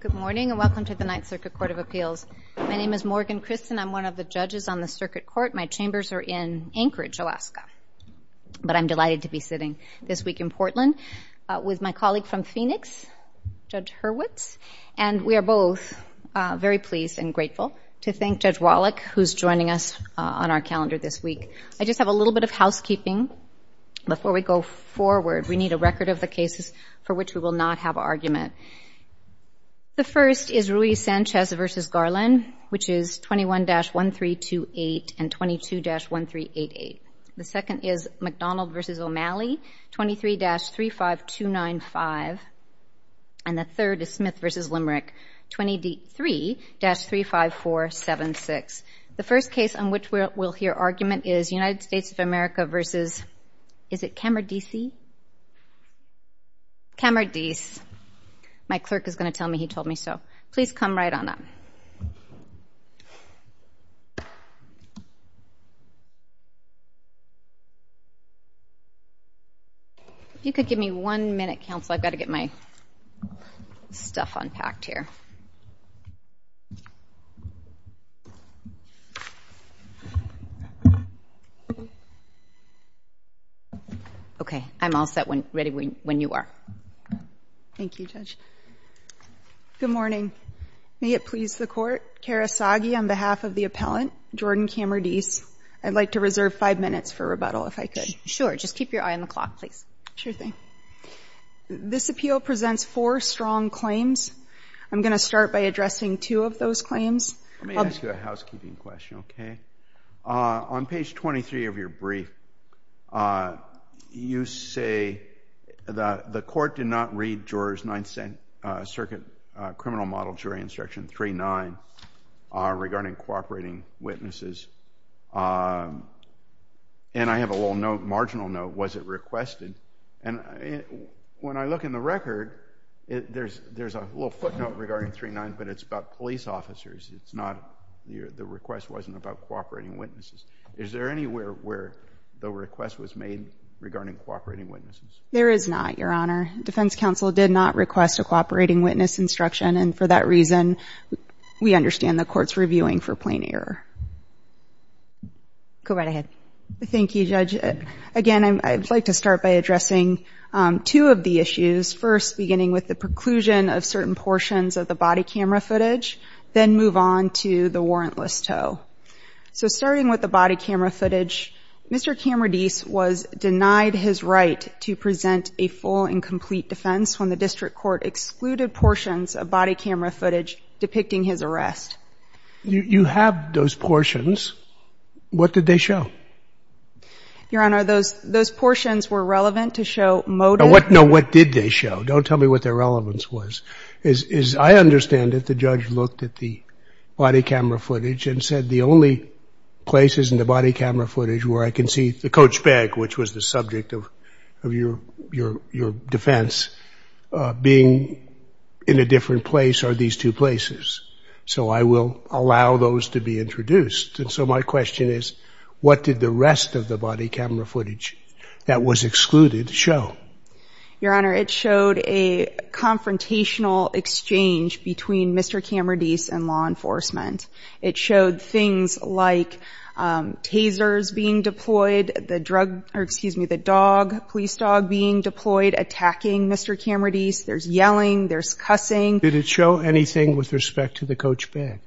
Good morning and welcome to the Ninth Circuit Court of Appeals. My name is Morgan Christen. I'm one of the judges on the Circuit Court. My chambers are in Anchorage, Alaska, but I'm delighted to be sitting this week in Portland with my colleague from Phoenix, Judge Hurwitz, and we are both very pleased and grateful to thank Judge Wallach, who's joining us on our calendar this week. I just have a little bit of housekeeping before we go forward. We need a record of the cases for which we will not have argument. The first is Ruiz-Sanchez v. Garland, which is 21-1328 and 22-1388. The second is McDonald v. O'Malley, 23-35295, and the third is Smith v. Limerick, 23-35476. The first case on which we'll hear argument is United States of America v. is it Camardese? Camardese. My clerk is going to tell me he told me so. Please come right on up. If you could give me one minute, counsel, I've got to get my stuff unpacked here. Okay, I'm all set when ready when you are. Thank you, Judge. Good morning. May it please the court, Kara Sagi on behalf of the appellant, Jordan Camardese. I'd like to reserve five minutes for rebuttal if I could. Sure, just keep your eye on the clock, please. Sure thing. This appeal presents four strong claims. I'm going to start by addressing two of those claims. Let me ask you a housekeeping question, okay? On page 23 of your brief, you say that the court did not read juror's Ninth Circuit Criminal Model Jury Instruction 3-9 regarding cooperating witnesses. And I have a little note, marginal note, was it requested? And when I look in the record, there's a little footnote regarding 3-9, but it's about police officers. It's not, the request wasn't about cooperating witnesses. Is there anywhere where the request was made regarding cooperating witnesses? There is not, Your Honor. Defense counsel did not request a cooperating witness instruction, and for that reason, we understand the court's reviewing for plain error. Go right ahead. Thank you, Judge. Again, I'd like to start by addressing two of the issues. First, beginning with the preclusion of certain portions of the body camera footage, then we'll move on to the warrantless tow. So starting with the body camera footage, Mr. Camredise was denied his right to present a full and complete defense when the district court excluded portions of body camera footage depicting his arrest. You have those portions. What did they show? Your Honor, those portions were relevant to show motive. No, what did they show? Don't tell me what their relevance was. As I understand it, the judge looked at the body camera footage and said, the only places in the body camera footage where I can see the coach bag, which was the subject of your defense, being in a different place are these two places. So I will allow those to be introduced. And so my question is, what did the rest of the body camera footage that was excluded show? Your Honor, it showed a confrontational exchange between Mr. Camredise and law enforcement. It showed things like tasers being deployed, the drug, or excuse me, the dog, police dog being deployed attacking Mr. Camredise. There's yelling, there's cussing. Did it show anything with respect to the coach bag?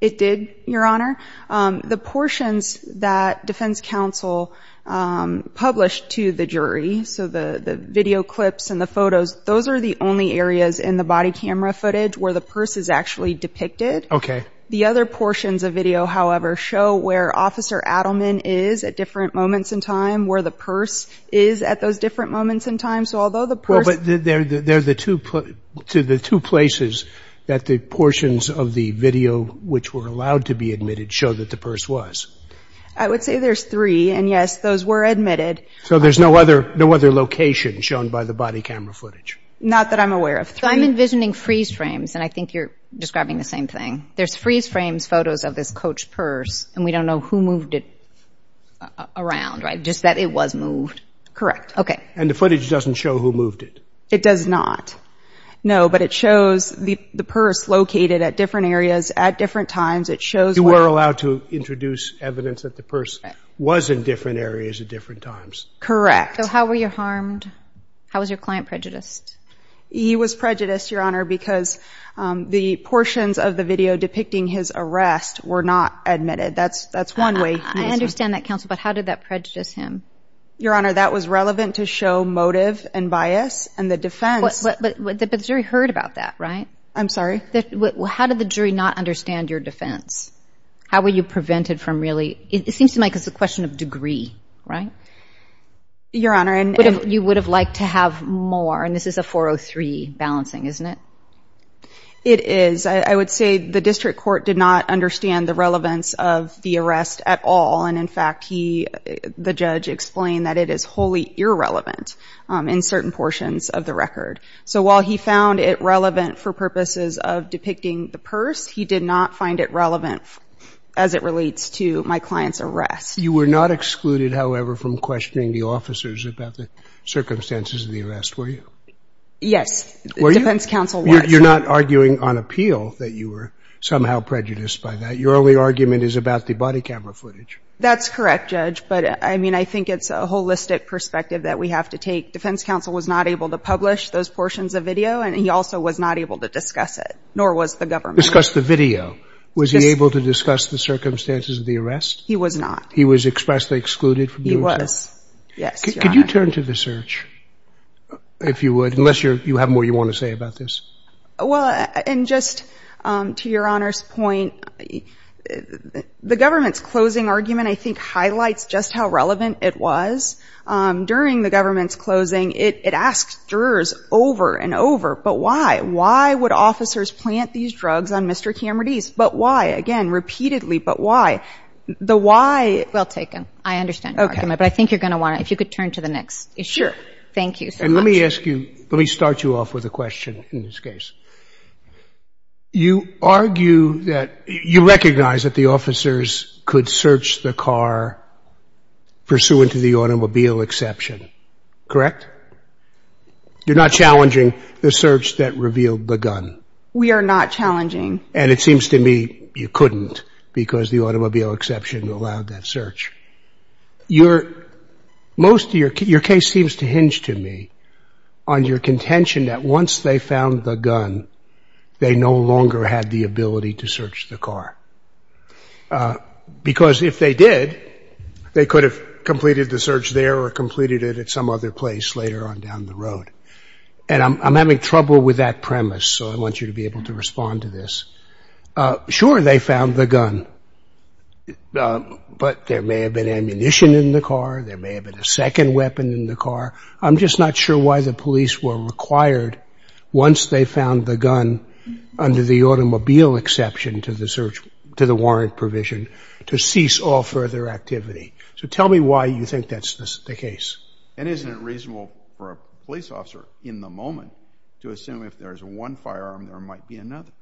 It did, Your Honor. The portions that defense counsel published to the jury, so the video clips and the photos, those are the only areas in the body camera footage where the purse is actually depicted. Okay. The other portions of video, however, show where Officer Adleman is at different moments in time, where the purse is at those different moments in time. So although the purse- Well, but they're the two places that the portions of the video which were allowed to be admitted show that the purse was. I would say there's three, and yes, those were admitted. So there's no other location shown by the body camera footage? Not that I'm aware of. I'm envisioning freeze frames, and I think you're describing the same thing. There's freeze frames photos of this coach purse, and we don't know who moved it around, right? Just that it was moved. Correct. Okay. And the footage doesn't show who moved it? It does not. No, but it shows the purse located at different areas at different times. It shows- You were allowed to introduce evidence that the purse was in different areas at different times. Correct. So how were you harmed? How was your client prejudiced? He was prejudiced, Your Honor, because the portions of the video depicting his arrest were not admitted. That's one way- I understand that, Counsel, but how did that prejudice him? Your Honor, that was relevant to show motive and bias, and the defense- But the jury heard about that, right? I'm sorry? How did the jury not understand your defense? How were you prevented from really- It seems to me like it's a question of degree, right? Your Honor, and- You would have liked to have more, and this is a 403 balancing, isn't it? It is. I would say the district court did not understand the relevance of the arrest at all, and in fact, the judge explained that it is wholly irrelevant in certain portions of the record. So while he found it relevant for purposes of depicting the purse, he did not find it relevant as it relates to my client's arrest. You were not excluded, however, from questioning the officers about the circumstances of the arrest, were you? Yes. Were you? Defense counsel was. You're not arguing on appeal that you were somehow prejudiced by that. Your only argument is about the body camera footage. That's correct, Judge, but I mean, I think it's a holistic perspective that we have to take. Defense counsel was not able to publish those portions of video, and he also was not able to discuss it, nor was the government. Discuss the video. Was he able to discuss the circumstances of the arrest? He was not. He was expressly excluded from doing so? He was. Yes, Your Honor. Could you turn to the search, if you would, unless you have more you want to say about this? Well, and just to Your Honor's point, the government's closing argument, I think, highlights just how relevant it was. During the government's closing, it asked jurors over and over, but why? Why would officers plant these drugs on Mr. Camardese? But why? Again, repeatedly, but why? The why? Well taken. I understand your argument, but I think you're going to want to, if you could turn to the next issue. Sure. Thank you so much. And let me ask you, let me start you off with a question in this case. You argue that, you recognize that the officers could search the car pursuant to the automobile exception, correct? You're not challenging the search that revealed the gun? We are not challenging. And it seems to me you couldn't, because the automobile exception allowed that search. Your, most of your case seems to hinge to me on your contention that once they found the gun, they no longer had the ability to search the car. Because if they did, they could have completed the search there or completed it at some other place later on down the road. And I'm having trouble with that premise, so I want you to be able to respond to this. Sure, they found the gun, but there may have been ammunition in the car, there may have been a second weapon in the car. I'm just not sure why the police were required, once they found the gun under the automobile exception to the search, to the warrant provision, to cease all further activity. So tell me why you think that's the case. And isn't it reasonable for a police officer in the moment to assume if there's one firearm there might be another?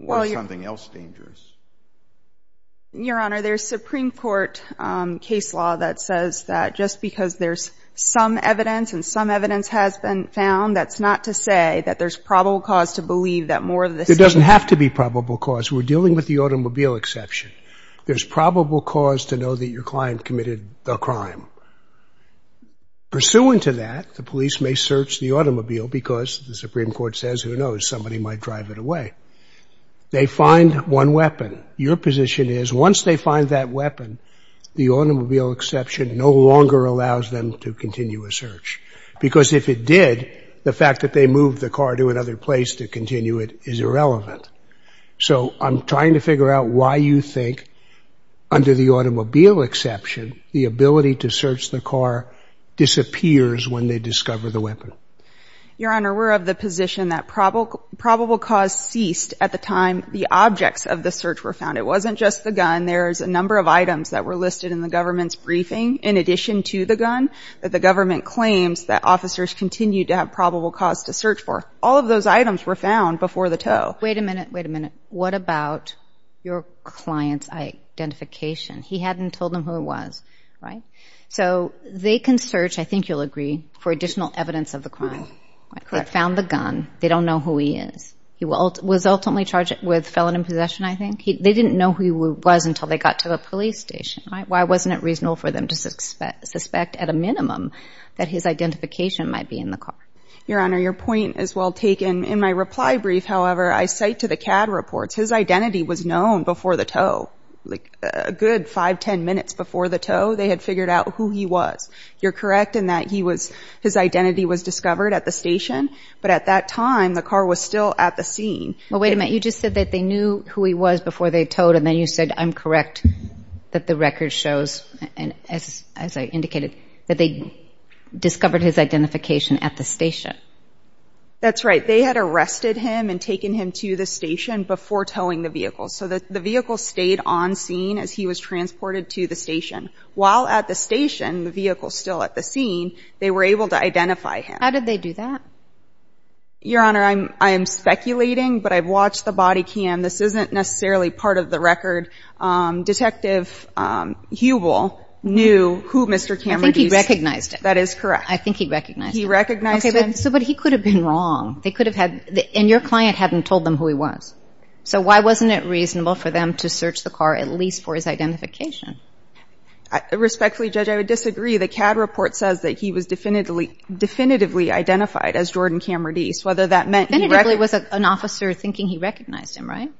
Or is something else dangerous? Your Honor, there's Supreme Court case law that says that just because there's some evidence and some evidence has been found, that's not to say that there's probable cause to believe that more of the same. It doesn't have to be probable cause. We're dealing with the automobile exception. There's probable cause to know that your client committed the crime. Pursuant to that, the police may search the automobile because, the Supreme Court says, who knows, somebody might drive it away. They find one weapon. Your position is, once they find that weapon, the automobile exception no longer allows them to continue a search. Because if it did, the fact that they moved the car to another place to continue it is irrelevant. So I'm trying to figure out why you think, under the automobile exception, the ability to search the car disappears when they discover the weapon. Your Honor, we're of the position that probable cause ceased at the time the objects of the search were found. It wasn't just the gun. There's a number of items that were listed in the government's briefing, in addition to the gun, that the government claims that officers continued to have probable cause to search for. All of those items were found before the tow. Wait a minute, wait a minute. What about your client's identification? He hadn't told them who it was, right? So they can search, I think you'll agree, for additional evidence of the crime. They found the gun. They don't know who he is. He was ultimately charged with felon in possession, I think. They didn't know who he was until they got to the police station, right? Why wasn't it reasonable for them to suspect, at a minimum, that his identification might be in the car? Your Honor, your point is well taken. In my reply brief, however, I cite to the CAD reports, his identity was known before the tow. Like, a good five, ten minutes before the tow, they had figured out who he was. You're correct in that he was, his identity was discovered at the station, but at that time, the car was still at the scene. Well, wait a minute. You just said that they knew who he was before they towed, and then you said, I'm correct, that the record shows, and as I indicated, that they discovered his identification at the station. That's right. They had arrested him and taken him to the station before towing the vehicle, so that the vehicle stayed on scene as he was transported to the station. While at the station, the vehicle still at the scene, they were able to identify him. How did they do that? Your Honor, I'm, I am speculating, but I've watched the body cam. This isn't necessarily part of the record. Detective Hubel knew who Mr. Cameron was. I think he recognized him. That is correct. I think he recognized him. He recognized him. So, but he could have been wrong. They could have had, and your client hadn't told them who he was. So, why wasn't it reasonable for them to search the car, at least for his identification? Respectfully, Judge, I would disagree. The CAD report says that he was definitively, definitively identified as Jordan Cameron Deese, whether that meant he recognized... Definitively was an officer thinking he recognized him, right?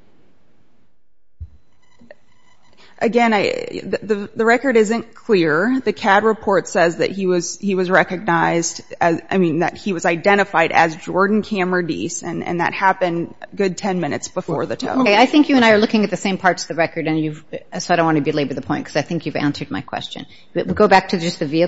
Again, I, the record isn't clear. The CAD report says that he was, he was recognized as, I mean, that he was identified as Jordan Cameron Deese, and that happened a good 10 minutes before the tow. Okay, I think you and I are looking at the same parts of the record, and you've, so I don't want to belabor the point, because I think you've answered my question. Go back to just the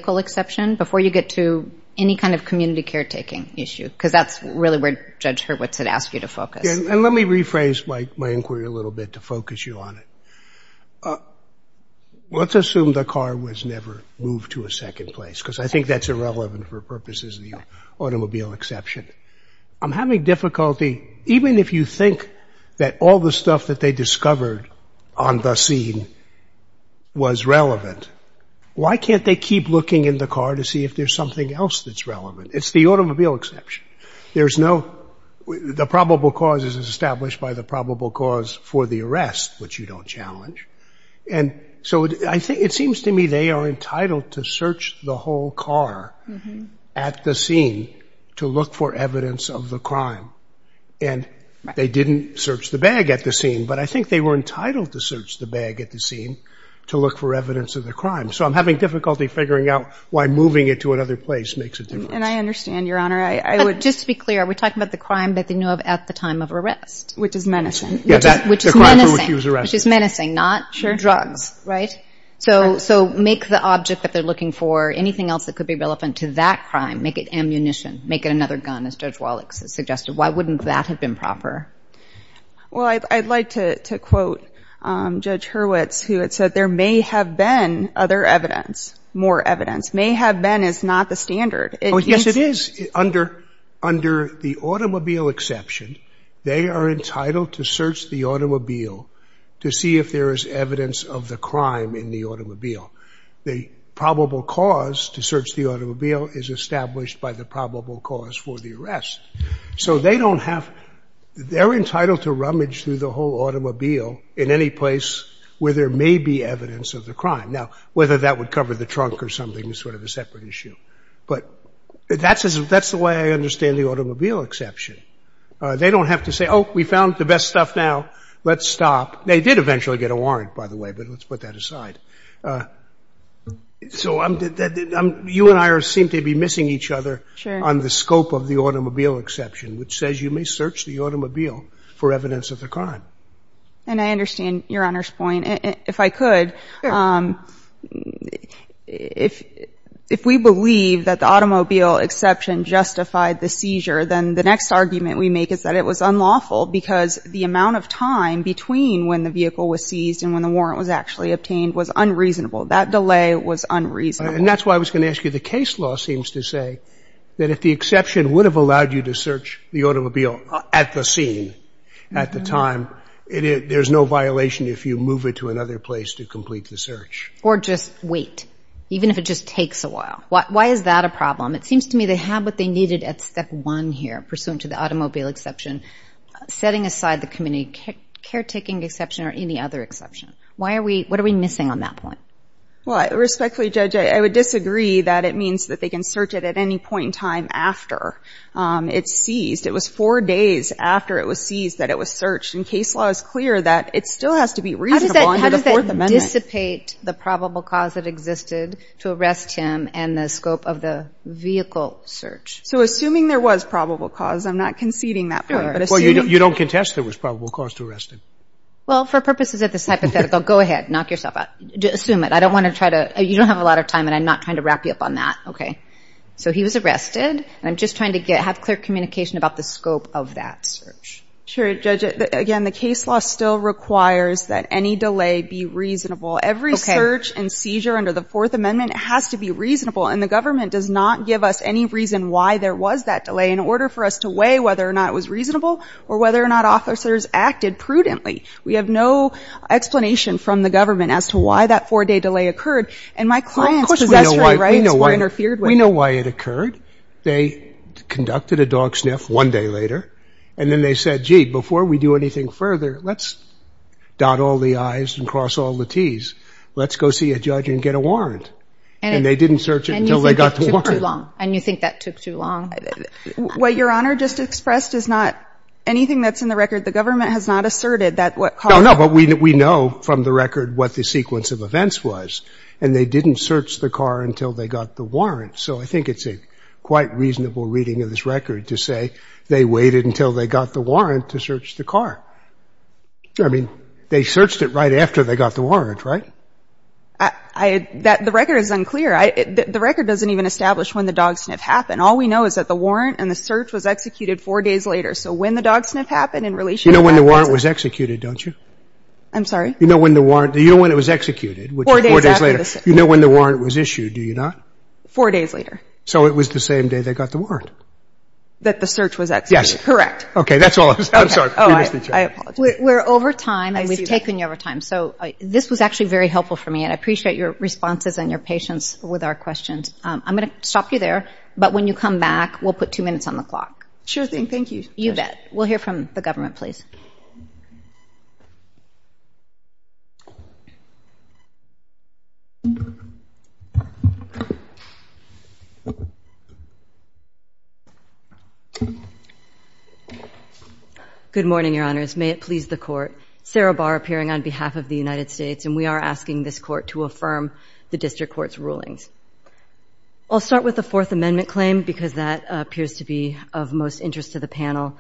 before you get to any kind of community caretaking issue, because that's really where Judge Hurwitz had asked you to focus. And let me rephrase my, my inquiry a little bit to focus you on it. Let's assume the car was never moved to a second place, because I think that's irrelevant for purposes of the automobile exception. I'm having difficulty, even if you think that all the stuff that they discovered on the scene was relevant, why can't they keep looking in the car to see if there's something else that's relevant? It's the automobile exception. There's no, the probable cause is established by the probable cause for the arrest, which you don't challenge. And so I think, it seems to me they are entitled to search the whole car at the scene to look for evidence of the crime. And they didn't search the bag at the scene, but I think they were entitled to search the bag at the scene to look for evidence of the crime. So I'm having difficulty figuring out why moving it to another place makes a difference. And I understand, Your Honor. I, I would. Just to be clear, we're talking about the crime that they knew of at the time of arrest. Which is menacing. Yeah, that. Which is menacing. The crime for which he was arrested. Which is menacing, not. Sure. Drugs. Right? So, so make the object that they're looking for, anything else that could be relevant to that crime, make it ammunition. Make it another gun, as Judge Wallach has suggested. Why wouldn't that have been proper? Well, I, I'd like to, to quote Judge Hurwitz, who had said that there may have been other evidence, more evidence. May have been is not the standard. It is. Oh, yes it is. Under, under the automobile exception, they are entitled to search the automobile to see if there is evidence of the crime in the automobile. The probable cause to search the automobile is established by the probable cause for the arrest. So they don't have, they're entitled to rummage through the whole automobile in any place where there may be evidence of the crime. Now, whether that would cover the trunk or something is sort of a separate issue. But that's as, that's the way I understand the automobile exception. They don't have to say, oh, we found the best stuff now, let's stop. They did eventually get a warrant, by the way, but let's put that aside. So I'm, you and I seem to be missing each other. Sure. On the scope of the automobile exception, which says you may search the automobile for evidence of the crime. And I understand your Honor's point. If I could, if, if we believe that the automobile exception justified the seizure, then the next argument we make is that it was unlawful because the amount of time between when the vehicle was seized and when the warrant was actually obtained was unreasonable. That delay was unreasonable. And that's why I was going to ask you, the case law seems to say that if the exception would have allowed you to search the automobile at the scene, at the time, it is, there's no violation if you move it to another place to complete the search. Or just wait, even if it just takes a while. Why, why is that a problem? It seems to me they have what they needed at step one here, pursuant to the automobile exception, setting aside the community caretaking exception or any other exception. Why are we, what are we missing on that point? Well, respectfully, Judge, I would disagree that it means that they can search it at any point in time after it's seized. It was four days after it was seized that it was searched. And case law is clear that it still has to be reasonable under the Fourth Amendment. How does that dissipate the probable cause that existed to arrest him and the scope of the vehicle search? So assuming there was probable cause, I'm not conceding that part. Well, you don't contest there was probable cause to arrest him. Well, for purposes of this hypothetical, go ahead, knock yourself out. Assume it. I don't want to try to, you don't have a lot of time and I'm not trying to wrap you up on that. Okay. So he was arrested and I'm just trying to get, have clear communication about the scope of that search. Sure, Judge. Again, the case law still requires that any delay be reasonable. Every search and seizure under the Fourth Amendment has to be reasonable and the government does not give us any reason why there was that delay in order for us to weigh whether or not it was reasonable or whether or not the officers acted prudently. We have no explanation from the government as to why that four-day delay occurred and my client's possessory rights were interfered with. We know why it occurred. They conducted a dog sniff one day later and then they said, gee, before we do anything further, let's dot all the I's and cross all the T's. Let's go see a judge and get a warrant. And they didn't search until they got the warrant. And you think that took too long? What Your Honor just expressed is not anything that's in the record. The government has not asserted that what caused it. No, no. But we know from the record what the sequence of events was. And they didn't search the car until they got the warrant. So I think it's a quite reasonable reading of this record to say they waited until they got the warrant to search the car. I mean, they searched it right after they got the warrant, right? I, I, that, the record is unclear. The record doesn't even establish when the dog sniff happened. All we know is that the warrant and the search was executed four days later. So when the dog sniff happened in relation to that. You know when the warrant was executed, don't you? I'm sorry? You know when the warrant, do you know when it was executed? Which is four days later. Four days after the search. You know when the warrant was issued, do you not? Four days later. So it was the same day they got the warrant. That the search was executed. Yes. Correct. Okay, that's all I was, I'm sorry. Oh, I, I apologize. We're, we're over time. I see that. And we've taken you over time. So I, this was actually very helpful for me. And I appreciate your responses and your patience with our questions. I'm going to stop you there. But when you come back, we'll put two minutes on the clock. Sure thing, thank you. You bet. We'll hear from the government, please. Good morning, your honors. May it please the court. Sarah Barr appearing on behalf of the United States, and we are asking this court to affirm the district court's rulings. I'll start with the fourth amendment claim, because that appears to be of most interest to the panel.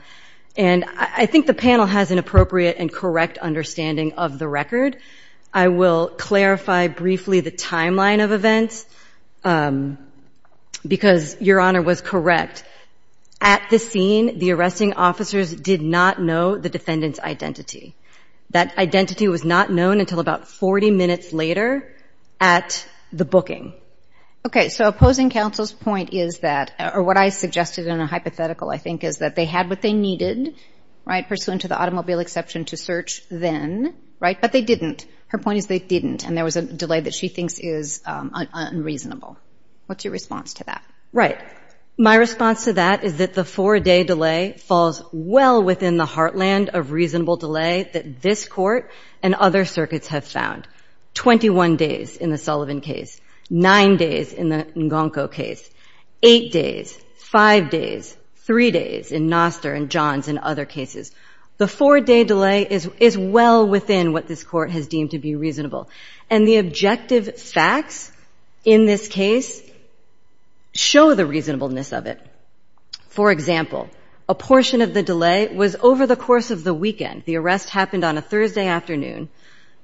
And I, I think the panel has an appropriate and correct understanding of the record. I will clarify briefly the timeline of events, because your honor was correct. At this scene, the arresting officers did not know the defendant's identity. That identity was not known until about 40 minutes later at the booking. Okay, so opposing counsel's point is that, or what I suggested in a hypothetical, I think, is that they had what they needed, right, pursuant to the automobile exception to search then, right? But they didn't. Her point is they didn't. And there was a delay that she thinks is unreasonable. What's your response to that? Right. My response to that is that the four-day delay falls well within the heartland of reasonable delay that this court and other circuits have found. Twenty-one days in the Sullivan case. Nine days in the N'Gonko case. Eight days. Five days. Three days in Noster and John's and other cases. The four-day delay is, is well within what this court has deemed to be reasonable. And the objective facts in this case show the reasonableness of it. For example, a portion of the delay was over the course of the weekend. The arrest happened on a Thursday afternoon.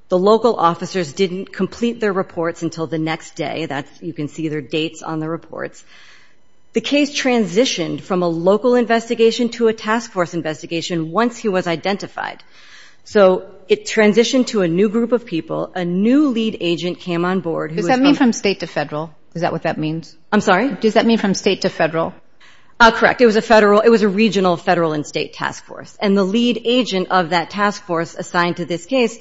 The local officers didn't complete their reports until the next day. That's, you can see their dates on the reports. The case transitioned from a local investigation to a task force investigation once he was identified. So it transitioned to a new group of people. A new lead agent came on board who was Does that mean from state to federal? Is that what that means? I'm sorry? Does that mean from state to federal? Correct. It was a federal, it was a regional federal and state task force. And the lead agent of that task force assigned to this case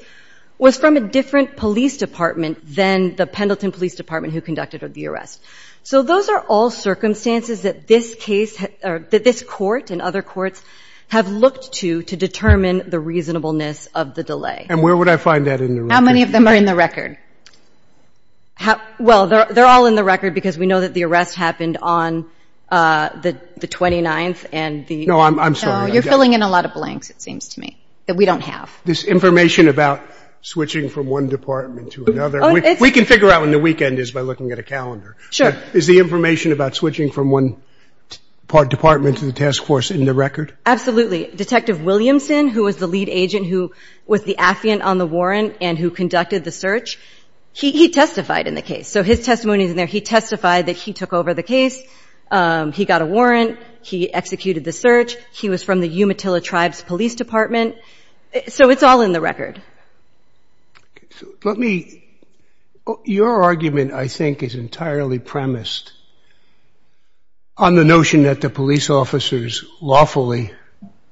was from a different police department than the Pendleton Police Department who conducted the arrest. So those are all circumstances that this case or that this court and other courts have looked to to determine the reasonableness of the delay. And where would I find that in the record? How many of them are in the record? Well, they're all in the record because we know that the arrest happened on the 29th and the No, you're filling in a lot of blanks, it seems to me, that we don't have. This information about switching from one department to another, we can figure out when the weekend is by looking at a calendar. Sure. Is the information about switching from one department to the task force in the record? Absolutely. Detective Williamson, who was the lead agent, who was the affiant on the warrant and who conducted the search, he testified in the case. So his testimony is in there. He testified that he took over the case. He got a warrant. He executed the search. He was from the Umatilla Tribes Police Department. So it's all in the record. Let me, your argument, I think, is entirely premised on the notion that the police officers lawfully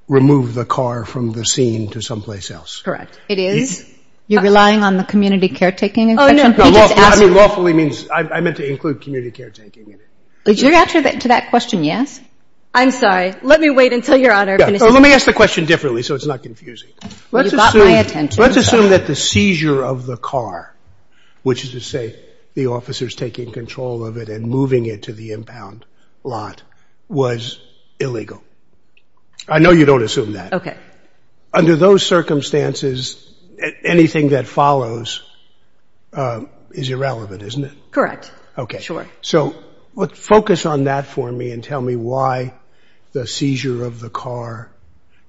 removed the car from the scene to someplace else. Correct. It is. You're relying on the community caretaking inspection? Oh, no, no. Lawfully means, I meant to include community caretaking in it. Is your answer to that question yes? I'm sorry. Let me wait until your honor finishes. Let me ask the question differently so it's not confusing. You got my attention. Let's assume that the seizure of the car, which is to say the officers taking control of it and moving it to the impound lot, was illegal. I know you don't assume that. Okay. Under those circumstances, anything that follows is irrelevant, isn't it? Correct. Sure. So focus on that for me and tell me why the seizure of the car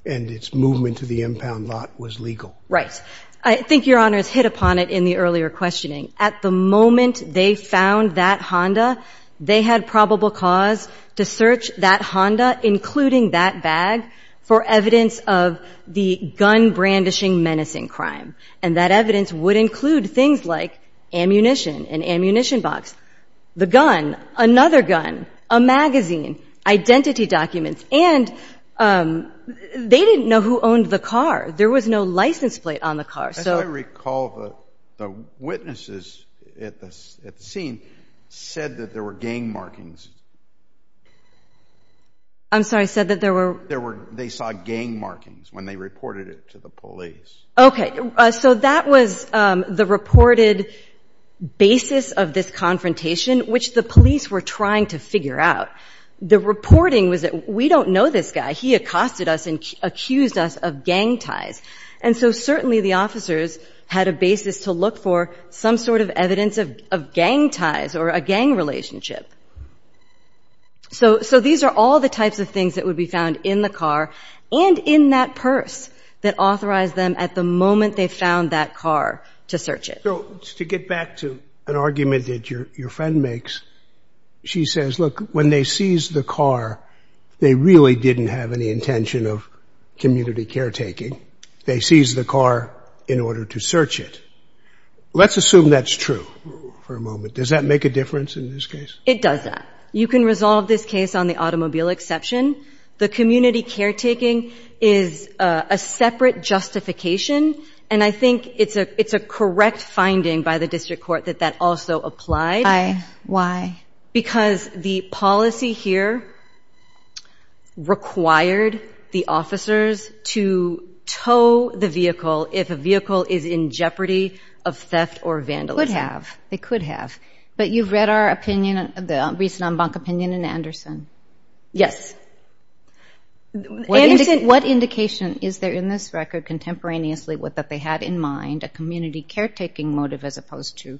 and its movement to the impound lot was legal. Right. I think your honor's hit upon it in the earlier questioning. At the moment they found that Honda, they had probable cause to search that Honda, including that bag, for evidence of the gun brandishing menacing crime. And that evidence would include things like ammunition, an ammunition box, the gun, another gun, a magazine, identity documents. And they didn't know who owned the car. There was no license plate on the car. As I recall, the witnesses at the scene said that there were gang markings. I'm sorry, said that there were? They saw gang markings when they reported it to the police. Okay. So that was the reported basis of this confrontation, which the police were trying to figure out. The reporting was that we don't know this guy. He accosted us and accused us of gang ties. And so certainly the officers had a basis to look for some sort of evidence of gang ties or a gang relationship. So these are all the types of things that would be found in the car and in that purse that authorized them at the moment they found that car to search it. So to get back to an argument that your friend makes, she says, look, when they seized the car, they really didn't have any intention of community caretaking. They seized the car in order to search it. Let's assume that's true for a moment. Does that make a difference in this case? It does that. You can resolve this case on the automobile exception. The community caretaking is a separate justification. And I think it's a correct finding by the district court that that also applied. Because the policy here required the officers to tow the vehicle if a vehicle is in jeopardy of theft or vandalism. Could have. They could have. But you've read our opinion, the recent en banc opinion in Anderson. Yes. What indication is there in this record contemporaneously that they had in mind a community caretaking motive as opposed to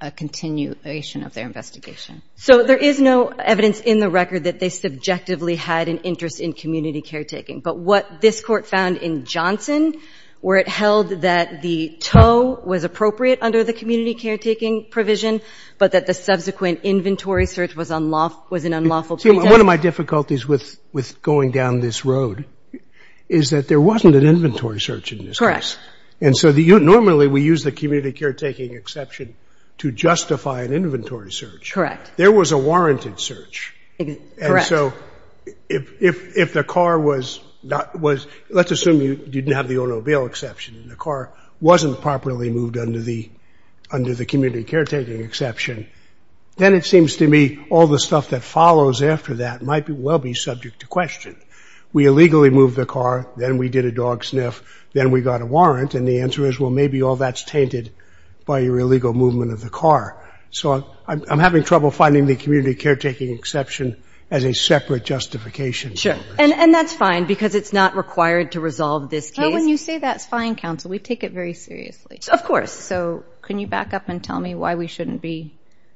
a continuation of their investigation? So there is no evidence in the record that they subjectively had an interest in community caretaking. But what this court found in Johnson, where it held that the tow was appropriate under the community caretaking provision, but that the subsequent inventory search was an unlawful pretext. One of my difficulties with going down this road is that there wasn't an inventory search in this case. And so normally we use the community caretaking exception to justify an inventory search. There was a warranted search. And so if the car was, let's assume you didn't have the automobile exception and the car wasn't properly moved under the community caretaking exception, then it seems to me all the stuff that follows after that might well be subject to question. We illegally moved the car, then we did a dog sniff, then we got a warrant. And the answer is, well, maybe all that's tainted by your illegal movement of the car. So I'm having trouble finding the community caretaking exception as a separate justification. Sure. And that's fine, because it's not required to resolve this case. But when you say that's fine, counsel, we take it very seriously. Of course. So can you back up and tell me why we shouldn't be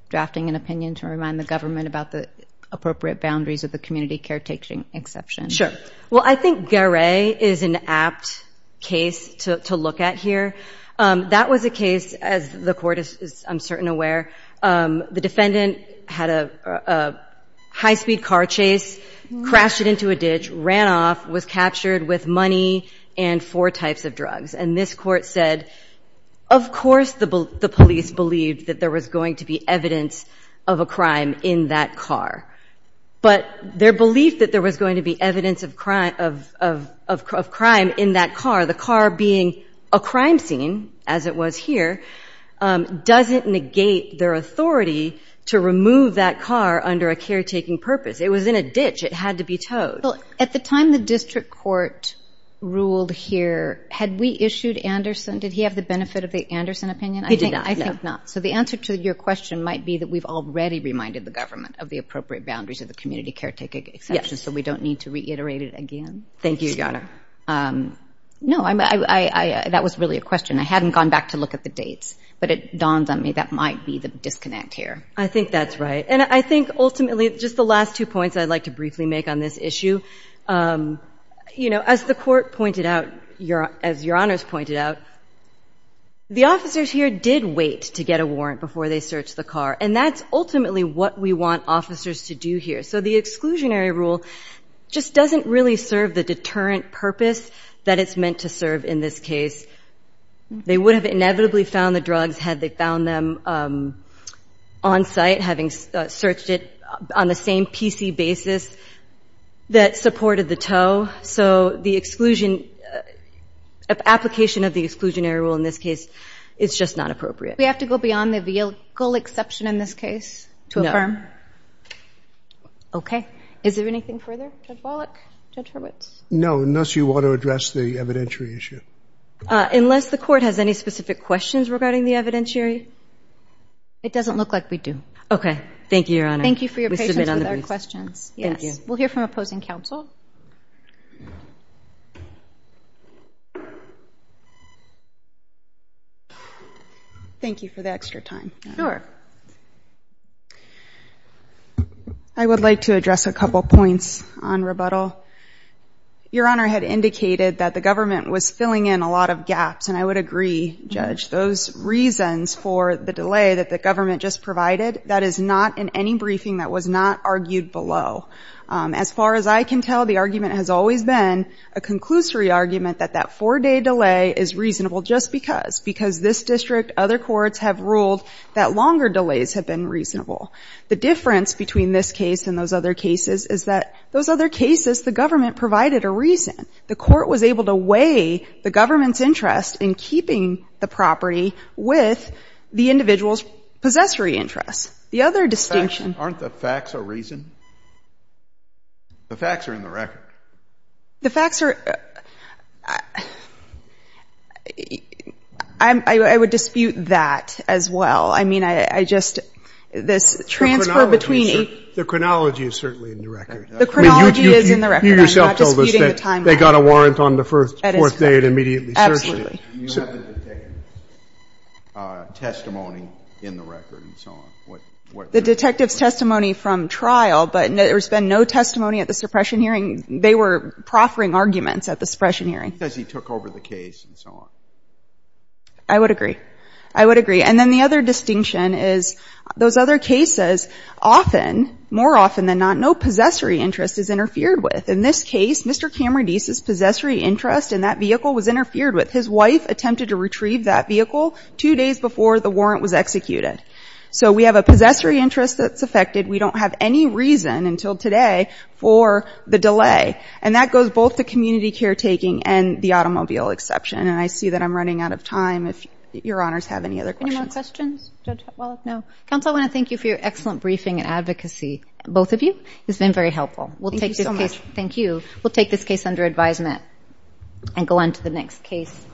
drafting an opinion to remind the government about the appropriate boundaries of the community caretaking exception? Sure. Well, I think Garay is an apt case to look at here. That was a case, as the court is, I'm certain, aware, the defendant had a high-speed car chase, crashed it into a ditch, ran off, was captured with money and four types of drugs. And this court said, of course the police believed that there was going to be evidence of a crime in that car. But their belief that there was going to be evidence of crime in that car, the car being a crime scene, as it was here, doesn't negate their authority to remove that car under a caretaking purpose. It was in a ditch. It had to be towed. Well, at the time the district court ruled here, had we issued Anderson? Did he have the benefit of the Anderson opinion? He did not. I think not. So the answer to your question might be that we've already reminded the government of the appropriate boundaries of the community caretaking exception. So we don't need to reiterate it again. Thank you, Your Honor. No, that was really a question. I hadn't gone back to look at the dates. But it dawned on me that might be the disconnect here. I think that's right. And I think, ultimately, just the last two points I'd like to briefly make on this issue. As the court pointed out, as Your Honors pointed out, the officers here did wait to get a warrant before they searched the car. And that's ultimately what we want officers to do here. So the exclusionary rule just doesn't really serve the deterrent purpose that it's meant to serve in this case. They would have inevitably found the drugs had they found them on site, having searched it on the same PC basis that supported the tow. So the application of the exclusionary rule in this case is just not appropriate. We have to go beyond the legal exception in this case to affirm? OK. Is there anything further, Judge Wallach, Judge Hurwitz? No, unless you want to address the evidentiary issue. Unless the court has any specific questions regarding the evidentiary, it doesn't look like we do. OK. Thank you, Your Honor. Thank you for your patience with our questions. Yes. We'll hear from opposing counsel. Thank you for the extra time. Sure. I would like to address a couple points on rebuttal. Your Honor had indicated that the government was filling in a lot of gaps. And I would agree, Judge, those reasons for the delay that the government just provided, that is not in any briefing that was not argued below. As far as I can tell, the argument has always been a conclusory argument that that four-day delay is reasonable just because, because this district, other courts have ruled that longer delays have been reasonable. The difference between this case and those other cases is that those other cases, the government provided a reason. The court was able to weigh the government's interest in keeping the property with the individual's possessory interest. The other distinction. Aren't the facts a reason? The facts are in the record. The facts are, I would dispute that as well. I mean, I just, this transfer between. The chronology is certainly in the record. The chronology is in the record. I'm not disputing the timeline. You yourself told us that they got a warrant on the fourth day to immediately search it. You have the detective's testimony in the record and so on. The detective's testimony from trial, but there's been no testimony at the suppression hearing. They were proffering arguments at the suppression hearing. Because he took over the case and so on. I would agree. I would agree. And then the other distinction is those other cases, often, more often than not, no possessory interest is interfered with. In this case, Mr. Cameron Deese's possessory interest in that vehicle was interfered with. His wife attempted to retrieve that vehicle two days before the warrant was executed. So we have a possessory interest that's affected. We don't have any reason, until today, for the delay. And that goes both to community caretaking and the automobile exception. And I see that I'm running out of time. If your honors have any other questions. Any more questions? Well, no. Counsel, I want to thank you for your excellent briefing and advocacy, both of you. It's been very helpful. Thank you so much. Thank you. We'll take this case under advisement and go on to the next case.